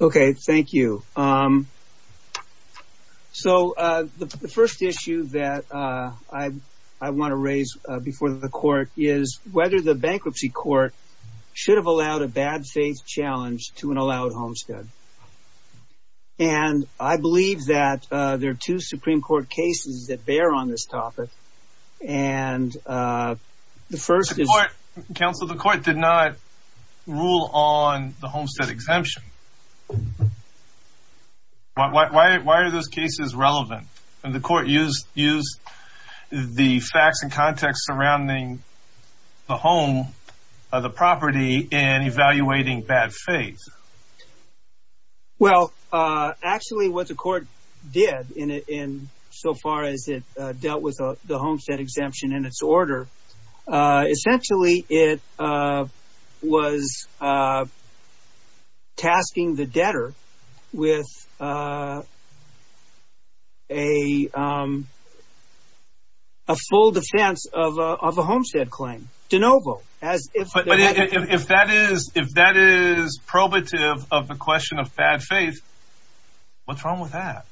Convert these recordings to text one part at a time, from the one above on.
Okay, thank you. So the first issue that I want to raise before the court is whether the bankruptcy court should have allowed a bad faith challenge to an allowed homestead. And I believe that there are two Supreme Court cases that bear on this topic. And the first is… The court, counsel, the court did not rule on the homestead exemption. Why are those cases relevant? And the court used the facts and context surrounding the home, the property in evaluating bad faith. Well, actually, what the court did in so far as it dealt with the homestead exemption in its order, essentially, it was tasking the debtor with a full defense of a homestead claim, de novo. But if that is probative of the question of bad faith, what's wrong with that?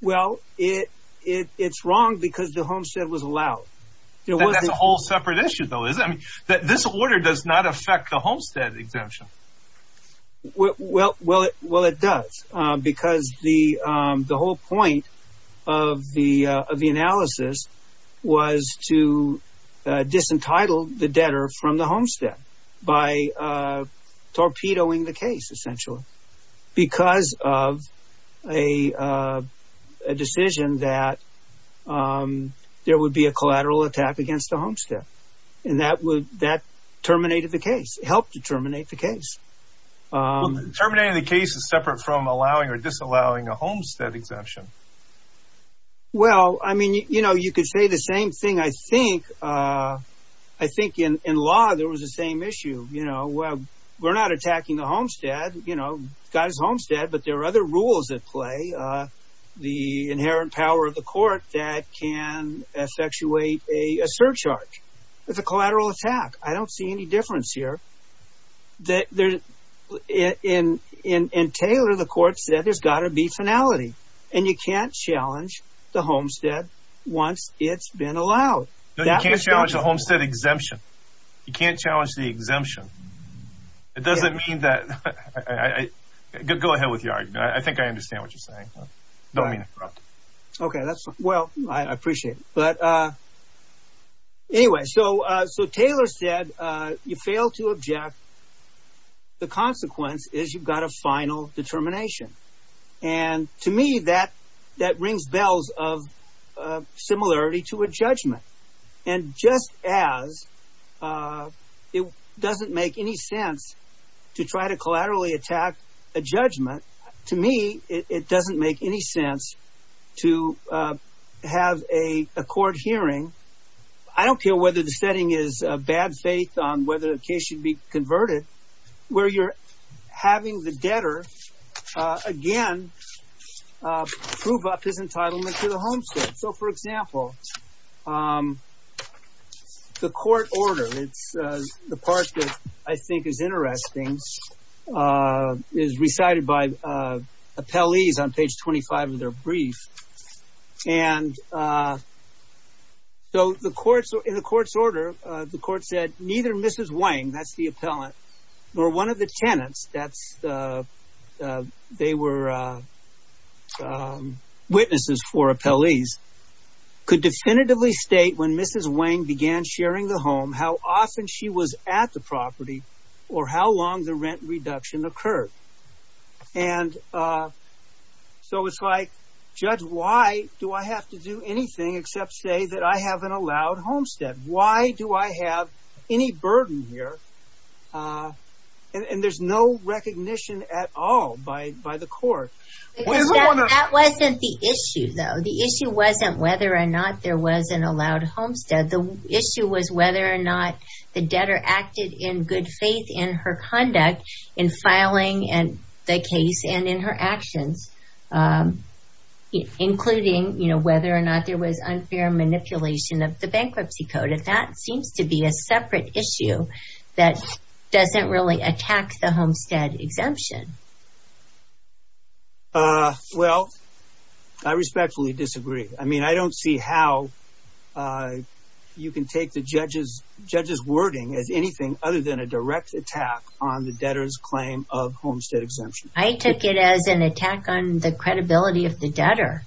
Well, it's wrong because the homestead was allowed. That's a whole separate issue, though, isn't it? This order does not affect the homestead exemption. Well, it does, because the whole point of the analysis was to disentitle the debtor from the homestead by torpedoing the case, essentially, because of a decision that there would be a collateral attack against the homestead. And that terminated the case, helped to terminate the case. Terminating the case is separate from allowing or disallowing a homestead exemption. Well, I mean, you know, you could say the same thing, I think. I think in law there was the same issue. You know, well, we're not attacking the homestead, you know, guy's homestead. But there are other rules at play, the inherent power of the court that can effectuate a surcharge with a collateral attack. I don't see any difference here that in Taylor, the court said there's got to be finality. And you can't challenge the homestead once it's been allowed. No, you can't challenge the homestead exemption. You can't challenge the exemption. It doesn't mean that, go ahead with your argument. I think I understand what you're saying. I don't mean to interrupt. Okay, well, I appreciate it. But anyway, so Taylor said you fail to object, the consequence is you've got a final determination. And to me, that rings bells of similarity to a judgment. And just as it doesn't make any sense to try to collaterally attack a judgment, to me it doesn't make any sense to have a court hearing. I don't care whether the setting is bad faith on whether the case should be converted, where you're having the debtor again prove up his entitlement to the homestead. So for example, the court order, it's the part that I think is interesting, is recited by appellees on page 25 of their brief. And so in the court's order, the court said, neither Mrs. Wang, that's the appellant, nor one of the tenants, they were witnesses for appellees, could definitively state when Mrs. Wang began sharing the home, how often she was at the property, or how long the rent reduction occurred. And so it's like, judge, why do I have to do anything except say that I have an allowed homestead? Why do I have any burden here? And there's no recognition at all by the court. That wasn't the issue, though. The issue wasn't whether or not there was an allowed homestead. The issue was whether or not the debtor acted in good faith in her conduct in filing the case and in her actions, including whether or not there was unfair manipulation of the bankruptcy code. And that seems to be a separate issue that doesn't really attack the homestead exemption. Well, I respectfully disagree. I mean, I don't see how you can take the judge's wording as anything other than a direct attack on the debtor's claim of homestead exemption. I took it as an attack on the credibility of the debtor.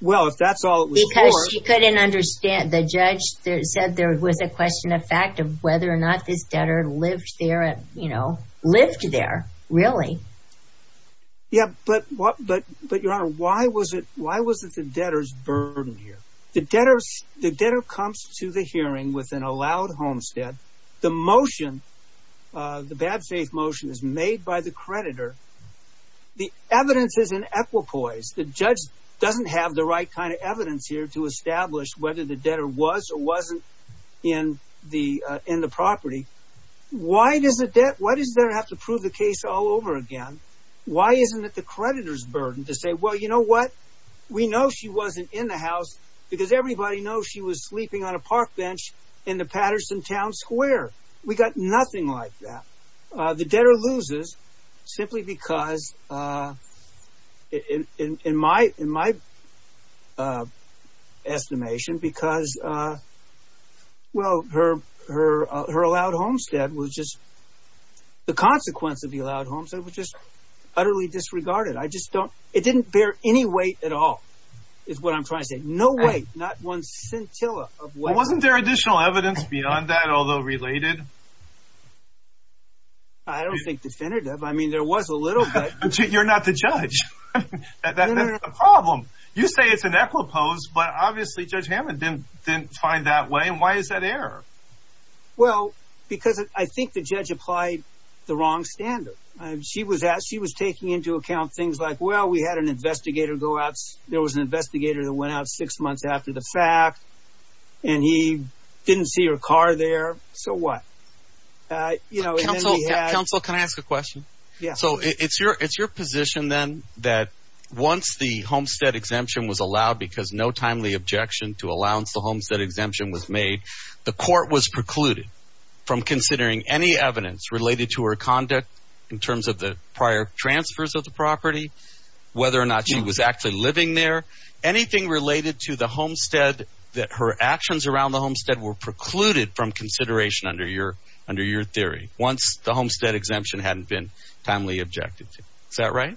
Well, if that's all it was for. Because she couldn't understand. The judge said there was a question of fact of whether or not this debtor lived there, you know, lived there, really. Yeah, but Your Honor, why was it the debtor's burden here? The debtor comes to the hearing with an allowed homestead. The motion, the bad faith motion is made by the creditor. The evidence is in equipoise. The judge doesn't have the right kind of evidence here to establish whether the debtor was or wasn't in the property. Why does the debtor have to prove the case all over again? Why isn't it the creditor's burden to say, well, you know what? We know she wasn't in the house because everybody knows she was sleeping on a park bench in the Patterson Town Square. We got nothing like that. The debtor loses simply because, in my estimation, because, well, her allowed homestead was just, the consequence of the allowed homestead was just utterly disregarded. I just don't, it didn't bear any weight at all is what I'm trying to say. No weight, not one scintilla of weight. Wasn't there additional evidence beyond that, although related? I don't think definitive. I mean, there was a little bit. You're not the judge. That's the problem. You say it's in equipoise, but obviously Judge Hammond didn't find that way. And why is that error? Well, because I think the judge applied the wrong standard. She was taking into account things like, well, we had an investigator go out. There was an investigator that went out six months after the fact, and he didn't see her car there. So what? Counsel, can I ask a question? Yeah. So it's your position then that once the homestead exemption was allowed because no timely objection to allowance the homestead exemption was made, the court was precluded from considering any evidence related to her conduct in terms of the prior transfers of the property, whether or not she was actually living there, anything related to the homestead, that her actions around the homestead were precluded from consideration under your theory once the homestead exemption hadn't been timely objected to. Is that right?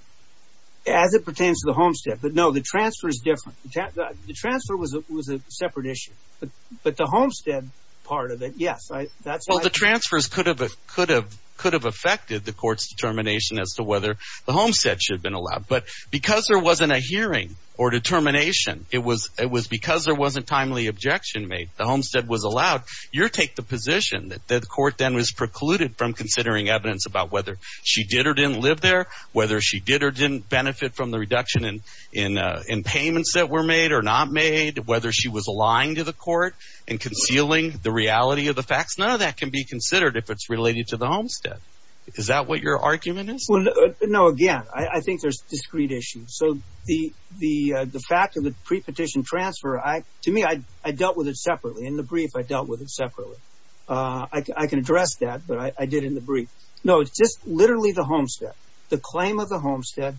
As it pertains to the homestead. But no, the transfer is different. The transfer was a separate issue. But the homestead part of it, yes. Well, the transfers could have affected the court's determination as to whether the homestead should have been allowed. But because there wasn't a hearing or determination, it was because there wasn't timely objection made. The homestead was allowed. Your take the position that the court then was precluded from considering evidence about whether she did or didn't live there, whether she did or didn't benefit from the reduction in payments that were made or not made, whether she was lying to the court and concealing the reality of the facts. None of that can be considered if it's related to the homestead. Is that what your argument is? No. Again, I think there's discrete issues. So the fact of the pre-petition transfer, to me, I dealt with it separately. In the brief, I dealt with it separately. I can address that. But I did in the brief. No, it's just literally the homestead, the claim of the homestead.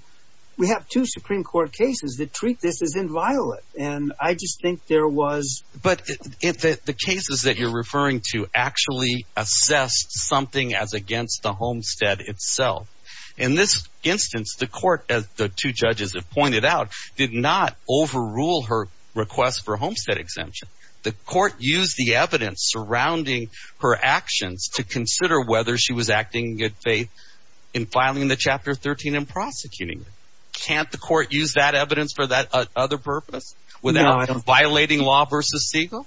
We have two Supreme Court cases that treat this as inviolate. And I just think there was. But the cases that you're referring to actually assess something as against the homestead itself. In this instance, the court, as the two judges have pointed out, did not overrule her request for a homestead exemption. The court used the evidence surrounding her actions to consider whether she was acting in good faith in filing the Chapter 13 and prosecuting. Can't the court use that evidence for that other purpose without violating law versus Segal?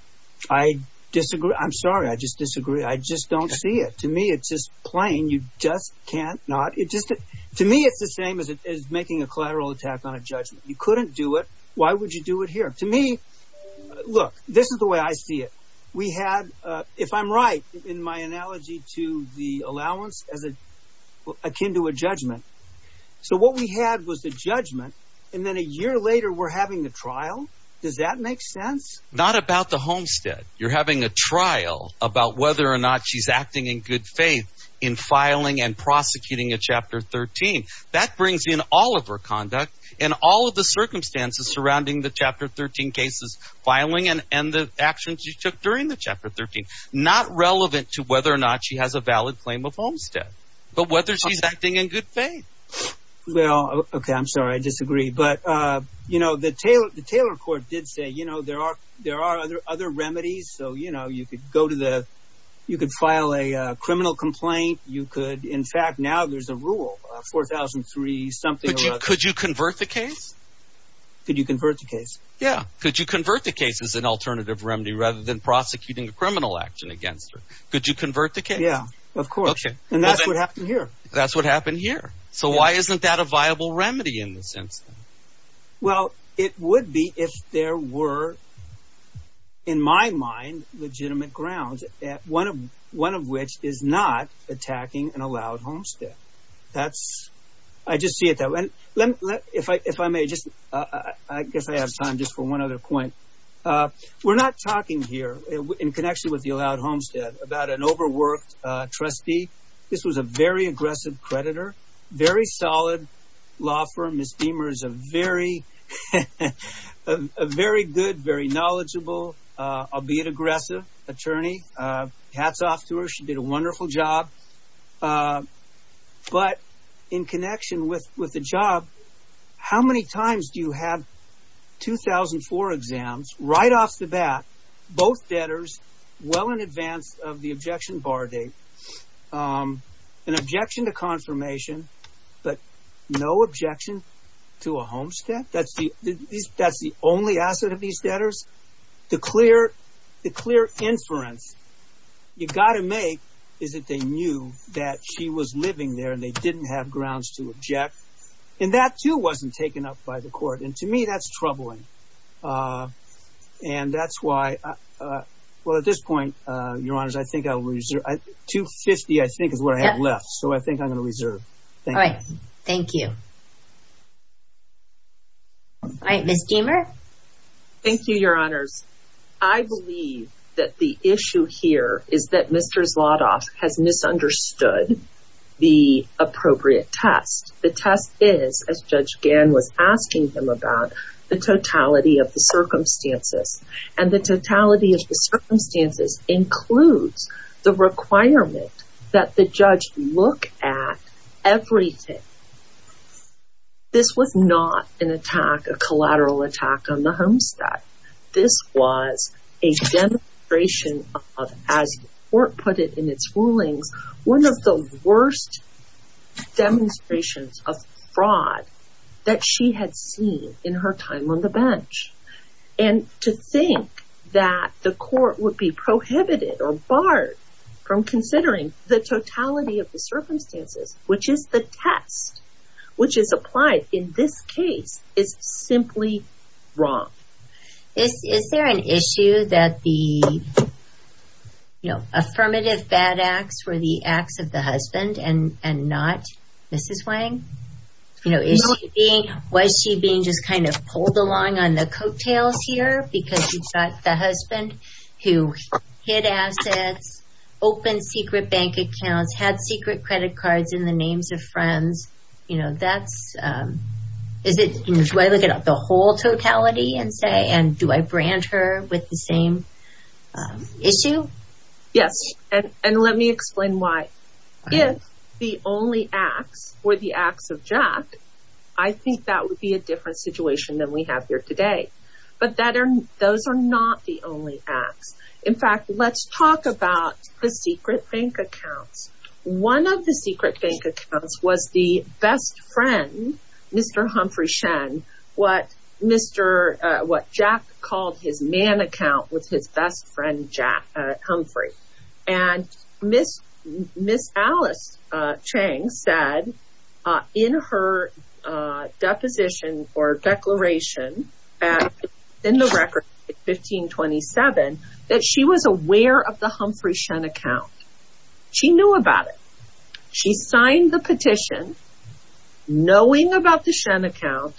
I disagree. I'm sorry. I just disagree. I just don't see it. To me, it's just plain. You just can't not. To me, it's the same as making a collateral attack on a judgment. You couldn't do it. Why would you do it here? To me, look, this is the way I see it. We had, if I'm right in my analogy to the allowance as akin to a judgment. So what we had was the judgment. And then a year later, we're having the trial. Does that make sense? Not about the homestead. You're having a trial about whether or not she's acting in good faith in filing and prosecuting a Chapter 13. That brings in all of her conduct and all of the circumstances surrounding the Chapter 13 cases filing and the actions she took during the Chapter 13, not relevant to whether or not she has a valid claim of homestead, but whether she's acting in good faith. Well, OK, I'm sorry. I disagree. But, you know, the Taylor Court did say, you know, there are other remedies. So, you know, you could go to the you could file a criminal complaint. You could. In fact, now there's a rule 4003 something. Could you convert the case? Could you convert the case? Yeah. Could you convert the case as an alternative remedy rather than prosecuting a criminal action against her? Could you convert the case? Yeah, of course. And that's what happened here. That's what happened here. So why isn't that a viable remedy in the sense? Well, it would be if there were, in my mind, legitimate grounds at one of one of which is not attacking an allowed homestead. That's I just see it that way. Let me if I if I may just I guess I have time just for one other point. We're not talking here in connection with the allowed homestead about an overworked trustee. This was a very aggressive creditor, very solid law firm. Miss Beamer is a very, very good, very knowledgeable, albeit aggressive attorney. Hats off to her. She did a wonderful job. But in connection with with the job, how many times do you have two thousand four exams right off the bat, both debtors well in advance of the objection bar date, an objection to confirmation, but no objection to a homestead? That's the that's the only asset of these debtors. The clear, the clear inference you've got to make is that they knew that she was living there and they didn't have grounds to object. And that, too, wasn't taken up by the court. And to me, that's troubling. And that's why. Well, at this point, your honors, I think I'll reserve 250, I think, is what I have left. So I think I'm going to reserve. All right. Thank you. All right, Miss Beamer. Thank you, your honors. I believe that the issue here is that Mr. Zlotoff has misunderstood the appropriate test. The test is, as Judge Gann was asking him about, the totality of the circumstances and the totality of the circumstances includes the requirement that the judge look at everything. This was not an attack, a collateral attack on the homestead. This was a demonstration of, as the court put it in its rulings, one of the worst demonstrations of fraud that she had seen in her time on the bench. And to think that the court would be prohibited or barred from considering the totality of the circumstances, which is the test, which is applied in this case, is simply wrong. Is there an issue that the, you know, affirmative bad acts were the acts of the husband and not Mrs. Wang? You know, is she being, was she being just kind of pulled along on the coattails here because you've got the husband who hid assets, opened secret bank accounts, had secret credit cards in the names of friends? You know, that's, is it, do I look at the whole totality and say, and do I brand her with the same issue? Yes, and let me explain why. If the only acts were the acts of Jack, I think that would be a different situation than we have here today. But that are, those are not the only acts. In fact, let's talk about the secret bank accounts. One of the secret bank accounts was the best friend, Mr. Humphrey Shen, what Mr., what Jack called his man account with his best friend, Jack Humphrey. And Miss, Miss Alice Chang said in her deposition or declaration in the record 1527 that she was aware of the Humphrey Shen account. She knew about it. She signed the petition knowing about the Shen account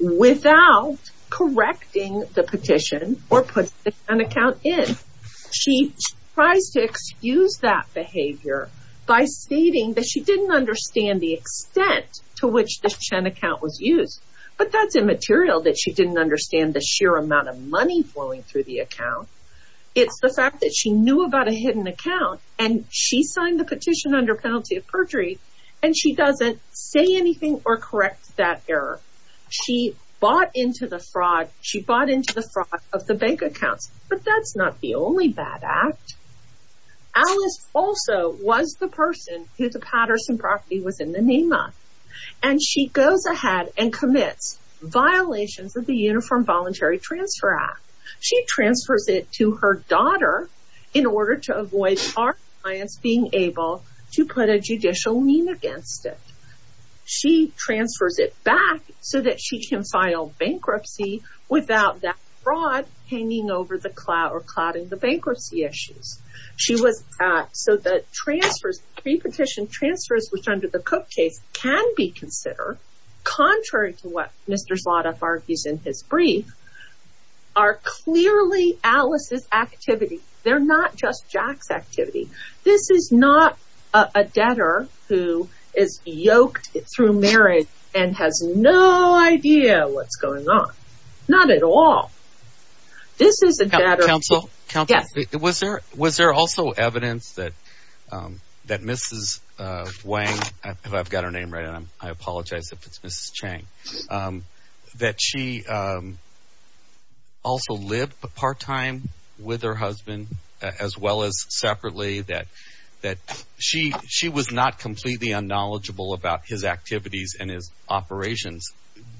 without correcting the petition or put an account in. She tries to excuse that behavior by stating that she didn't understand the extent to which the Shen account was used. But that's immaterial that she didn't understand the sheer amount of money flowing through the account. It's the fact that she knew about a hidden account and she signed the petition under penalty of perjury and she doesn't say anything or correct that error. She bought into the fraud. She bought into the fraud of the bank accounts. But that's not the only bad act. Alice also was the person who the Patterson property was in the NEMA. And she goes ahead and commits violations of the Uniform Voluntary Transfer Act. She transfers it to her daughter in order to avoid our clients being able to put a judicial name against it. She transfers it back so that she can file bankruptcy without that fraud hanging over the cloud or clouding the bankruptcy issues. She was so that transfers, pre-petition transfers, which under the Cook case can be considered, contrary to what Mr. Zlotoff argues in his brief, are clearly Alice's activity. They're not just Jack's activity. This is not a debtor who is yoked through marriage and has no idea what's going on. Not at all. This is a debtor. Counsel, was there also evidence that Mrs. Wang, if I've got her name right, I apologize if it's Mrs. Chang, that she also lived part-time with her husband as well as separately, that she was not completely unknowledgeable about his activities and his operations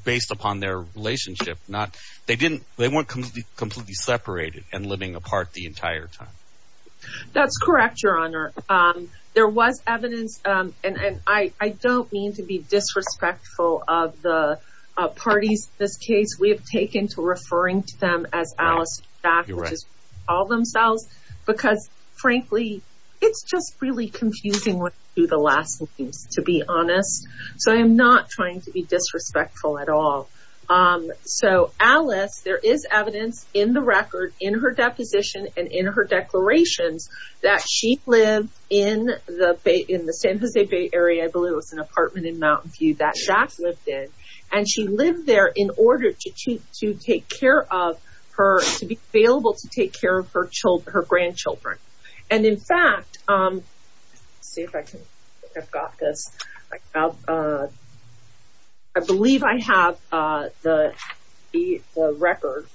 based upon their relationship? They weren't completely separated and living apart the entire time? That's correct, Your Honor. There was evidence, and I don't mean to be disrespectful of the parties in this case. We have taken to referring to them as Alice and Jack, which is what they call themselves, because frankly, it's just really confusing when you do the last things, to be honest. So I'm not trying to be disrespectful at all. So Alice, there is evidence in the record, in her deposition, and in her declarations that she lived in the San Jose Bay area. I believe it was an apartment in Mountain View that Jack lived in. And she lived there in order to take care of her, to be available to take care of her grandchildren. And in fact, let's see if I can, I've got this. I believe I have the record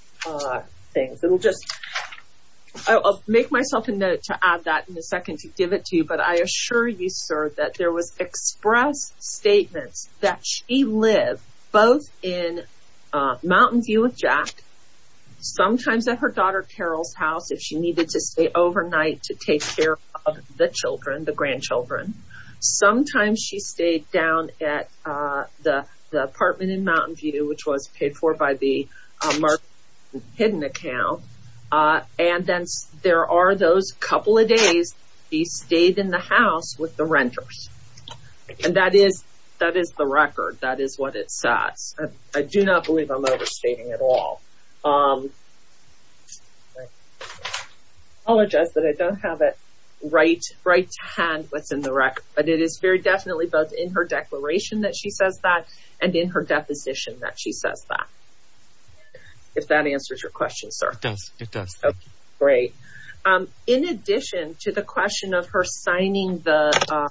things. It'll just, I'll make myself a note to add that in a second to give it to you. But I assure you, sir, that there was express statements that she lived both in Mountain View with Jack, sometimes at her daughter Carol's house, if she needed to stay overnight to take care of the children, the grandchildren. Sometimes she stayed down at the apartment in Mountain View, which was paid for by the Mark Hidden account. And then there are those couple of days, he stayed in the house with the renters. And that is the record. That is what it says. I do not believe I'm overstating at all. I apologize that I don't have it right to hand what's in the record. But it is very definitely both in her declaration that she says that and in her deposition that she says that. If that answers your question, sir. It does. It does. Okay, great. In addition to the question of her signing the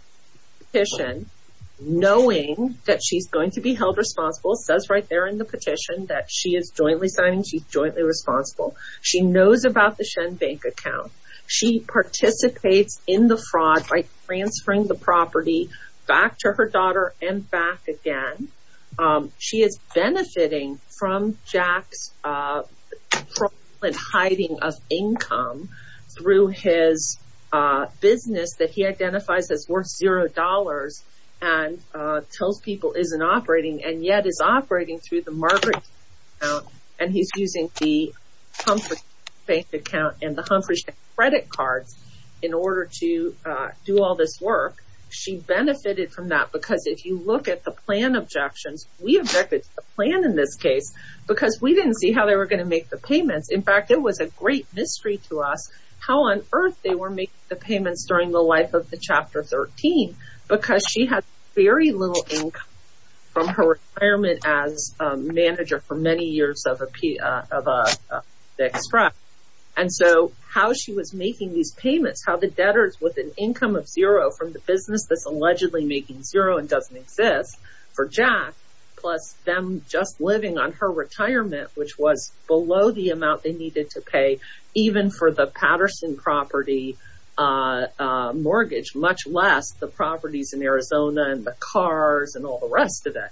petition, knowing that she's going to be held responsible, says right there in the petition that she is jointly signing, she's jointly responsible. She knows about the Shen Bank account. She participates in the fraud by transferring the property back to her daughter and back again. She is benefiting from Jack's hiding of income through his business that he identifies as worth zero dollars and tells people isn't operating and yet is operating through the Margaret account. And he's using the Humphrey Bank account and the Humphrey credit cards in order to do all this work. She benefited from that because if you look at the plan objections, we objected to the plan in this case because we didn't see how they were going to make the payments. In fact, it was a great mystery to us how on earth they were making the payments during the life of the Chapter 13 because she had very little income from her retirement as a manager for many years of the extract. And so how she was making these payments, how the debtors with an income of zero from the business that's allegedly making zero and doesn't exist for Jack, plus them just living on her retirement, which was below the amount they needed to pay, even for the Patterson property mortgage, much less the properties in Arizona and the cars and all the rest of it.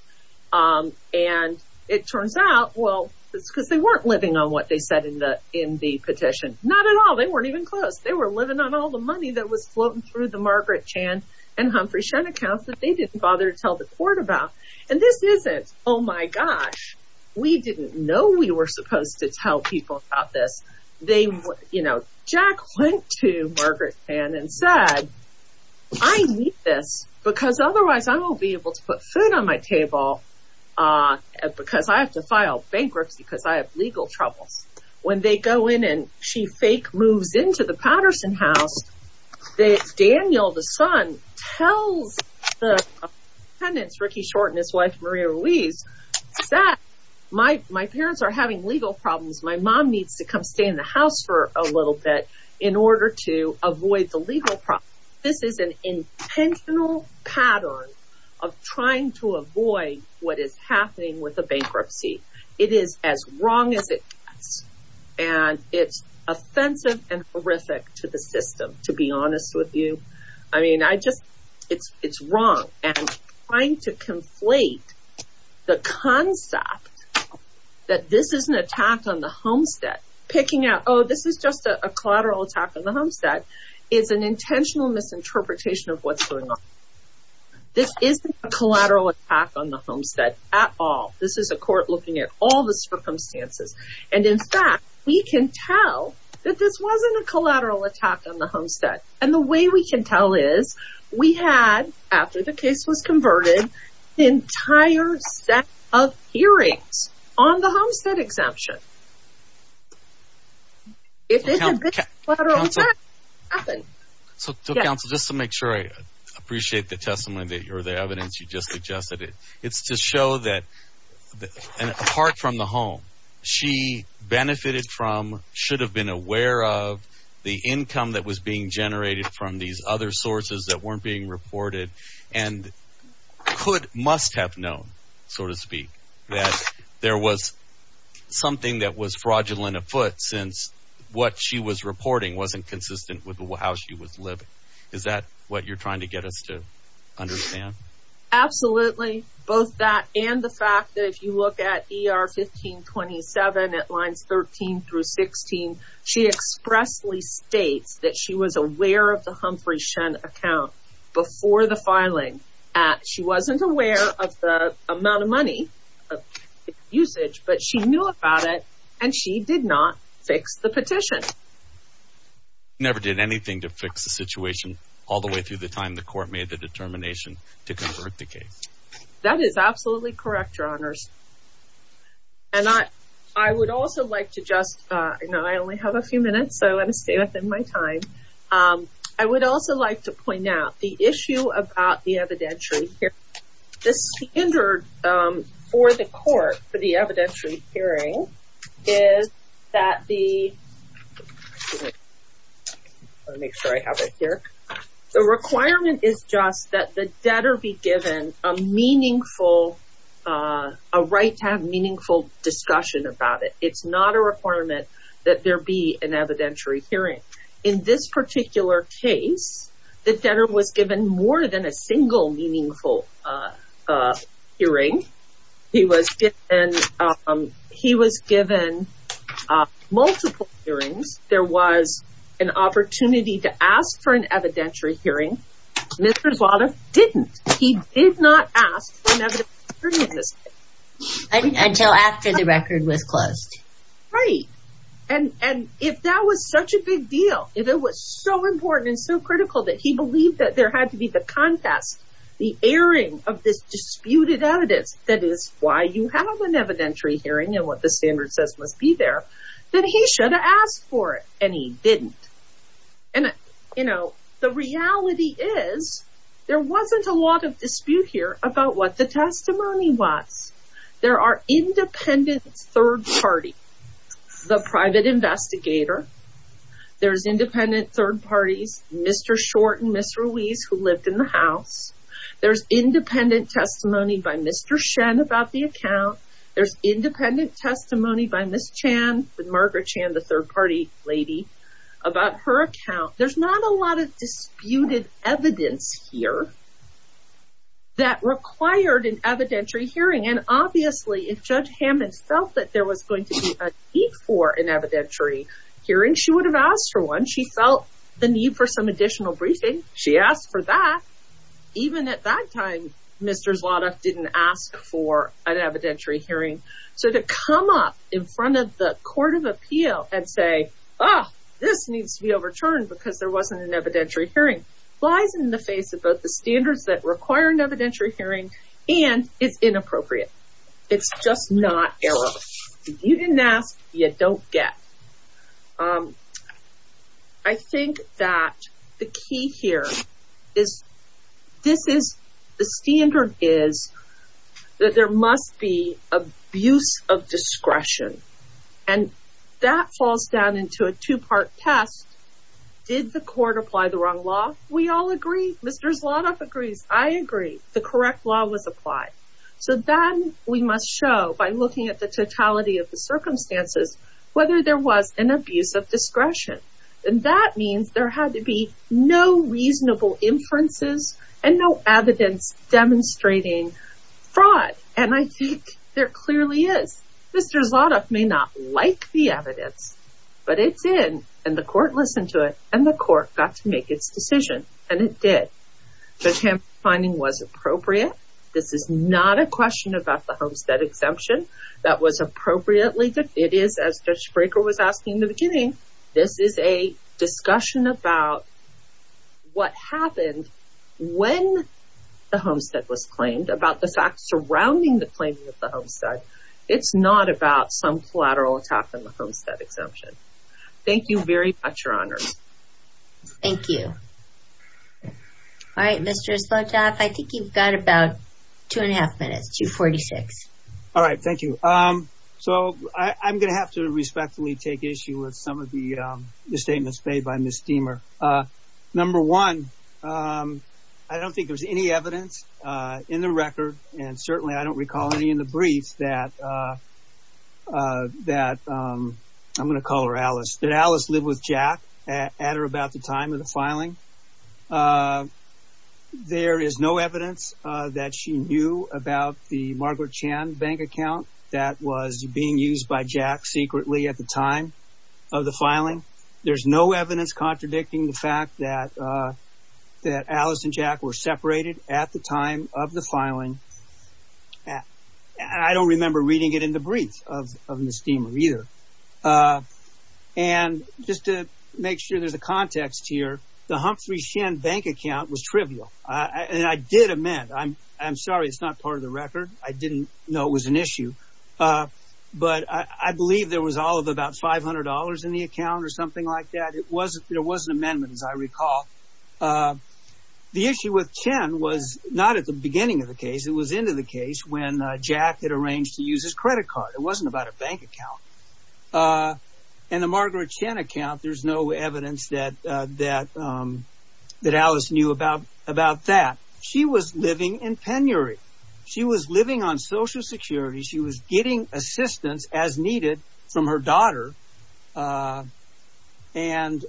And it turns out, well, it's because they weren't living on what they said in the petition. Not at all. They weren't even close. They were living on all the money that was floating through the Margaret Chan and Humphrey account that they didn't bother to tell the court about. And this isn't, oh my gosh, we didn't know we were supposed to tell people about this. You know, Jack went to Margaret Chan and said, I need this because otherwise I won't be able to put food on my table because I have to file bankruptcy because I have legal troubles. When they go in and she fake moves into the Patterson house, Daniel, the son, tells the tenants, Ricky Short and his wife, Maria Ruiz, that my parents are having legal problems. My mom needs to come stay in the house for a little bit in order to avoid the legal problem. This is an intentional pattern of trying to avoid what is happening with a bankruptcy. It is as wrong as it gets. And it's offensive and horrific to the system, to be honest with you. I mean, I just, it's wrong. And trying to conflate the concept that this is an attack on the homestead, picking out, oh, this is just a collateral attack on the homestead, is an intentional misinterpretation of what's going on. This isn't a collateral attack on the homestead at all. This is a court looking at all the circumstances. And in fact, we can tell that this wasn't a collateral attack on the homestead. And the way we can tell is we had, after the case was converted, the entire set of hearings on the homestead exemption. If this is a collateral attack, what happened? So, counsel, just to make sure I appreciate the testimony or the evidence you just suggested, it's to show that, apart from the home, she benefited from, should have been aware of, the income that was being generated from these other sources that weren't being reported, and could, must have known, so to speak, that there was something that was fraudulent afoot since what she was reporting wasn't consistent with how she was living. Is that what you're trying to get us to understand? Absolutely. Both that and the fact that if you look at ER 1527 at lines 13 through 16, she expressly states that she was aware of the Humphrey-Shen account before the filing. She wasn't aware of the amount of money usage, but she knew about it, and she did not fix the petition. She never did anything to fix the situation, all the way through the time the court made the determination to convert the case. That is absolutely correct, Your Honors. And I would also like to just, you know, I only have a few minutes, so I'm going to stay within my time. I would also like to point out the issue about the evidentiary hearing. The standard for the court for the evidentiary hearing is that the, let me make sure I have it here, the requirement is just that the debtor be given a meaningful, a right to have meaningful discussion about it. It's not a requirement that there be an evidentiary hearing. In this particular case, the debtor was given more than a single meaningful hearing. He was given multiple hearings. There was an opportunity to ask for an evidentiary hearing. Mr. Zlatov didn't. He did not ask for an evidentiary hearing in this case. Until after the record was closed. Right, and if that was such a big deal, if it was so important and so critical that he believed that there had to be the contest, the airing of this disputed evidence, that is why you have an evidentiary hearing and what the standard says must be there, then he should have asked for it, and he didn't. And, you know, the reality is there wasn't a lot of dispute here about what the testimony was. There are independent third party, the private investigator. There's independent third parties, Mr. Short and Ms. Ruiz who lived in the house. There's independent testimony by Mr. Shen about the account. There's independent testimony by Ms. Chan, with Margaret Chan, the third party lady, about her account. There's not a lot of disputed evidence here that required an evidentiary hearing. And, obviously, if Judge Hammond felt that there was going to be a need for an evidentiary hearing, she would have asked for one. She felt the need for some additional briefing. She asked for that. Even at that time, Mr. Zlotnick didn't ask for an evidentiary hearing. So, to come up in front of the Court of Appeal and say, oh, this needs to be overturned because there wasn't an evidentiary hearing, lies in the face of both the standards that require an evidentiary hearing and is inappropriate. It's just not error. You didn't ask, you don't get. I think that the key here is this is the standard is that there must be abuse of discretion. And that falls down into a two-part test. Did the court apply the wrong law? We all agree. Mr. Zlotnick agrees. I agree. The correct law was applied. So, then we must show, by looking at the totality of the circumstances, whether there was an abuse of discretion. And that means there had to be no reasonable inferences and no evidence demonstrating fraud. And I think there clearly is. Mr. Zlotnick may not like the evidence, but it's in. And the court listened to it. And the court got to make its decision. And it did. The Tampa finding was appropriate. This is not a question about the Homestead exemption. That was appropriately good. It is, as Judge Fraker was asking in the beginning, this is a discussion about what happened when the Homestead was claimed, about the facts surrounding the claiming of the Homestead. It's not about some collateral attack on the Homestead exemption. Thank you very much, Your Honors. Thank you. All right, Mr. Zlotnick, I think you've got about two and a half minutes, 246. All right, thank you. So I'm going to have to respectfully take issue with some of the statements made by Ms. Deamer. Number one, I don't think there's any evidence in the record. And certainly I don't recall any in the briefs that, I'm going to call her Alice, that Alice lived with Jack at or about the time of the filing. There is no evidence that she knew about the Margaret Chan bank account that was being used by Jack secretly at the time of the filing. There's no evidence contradicting the fact that Alice and Jack were separated at the time of the filing. I don't remember reading it in the brief of Ms. Deamer either. And just to make sure there's a context here, the Humphrey Shen bank account was trivial. And I did amend. I'm sorry, it's not part of the record. I didn't know it was an issue. But I believe there was all of about $500 in the account or something like that. There was an amendment, as I recall. The issue with Chen was not at the beginning of the case. It was into the case when Jack had arranged to use his credit card. It wasn't about a bank account. And the Margaret Chan account, there's no evidence that Alice knew about that. She was living in penury. She was living on Social Security. She was getting assistance as needed from her daughter. And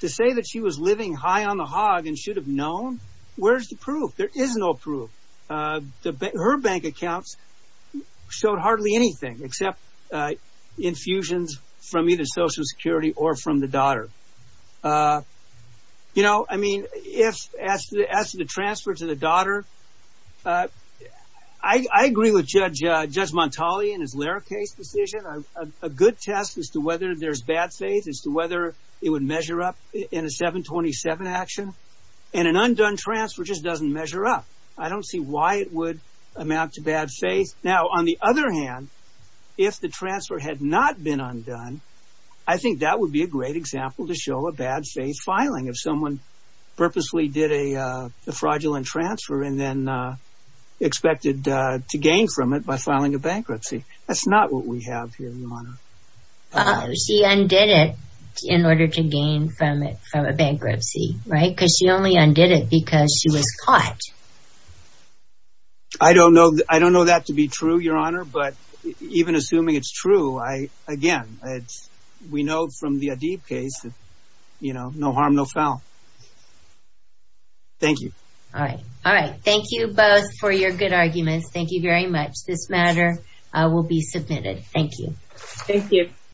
to say that she was living high on the hog and should have known, where's the proof? There is no proof. Her bank accounts showed hardly anything except infusions from either Social Security or from the daughter. You know, I mean, as to the transfer to the daughter, I agree with Judge Montali and his Lara case decision. A good test as to whether there's bad faith, as to whether it would measure up in a 727 action. And an undone transfer just doesn't measure up. I don't see why it would amount to bad faith. Now, on the other hand, if the transfer had not been undone, I think that would be a great example to show a bad faith filing. If someone purposely did a fraudulent transfer and then expected to gain from it by filing a bankruptcy. That's not what we have here, Your Honor. She undid it in order to gain from it from a bankruptcy, right? Because she only undid it because she was caught. I don't know that to be true, Your Honor. But even assuming it's true, again, we know from the Adeeb case, you know, no harm, no foul. Thank you. All right. All right. Thank you both for your good arguments. Thank you very much. This matter will be submitted. Thank you. Thank you.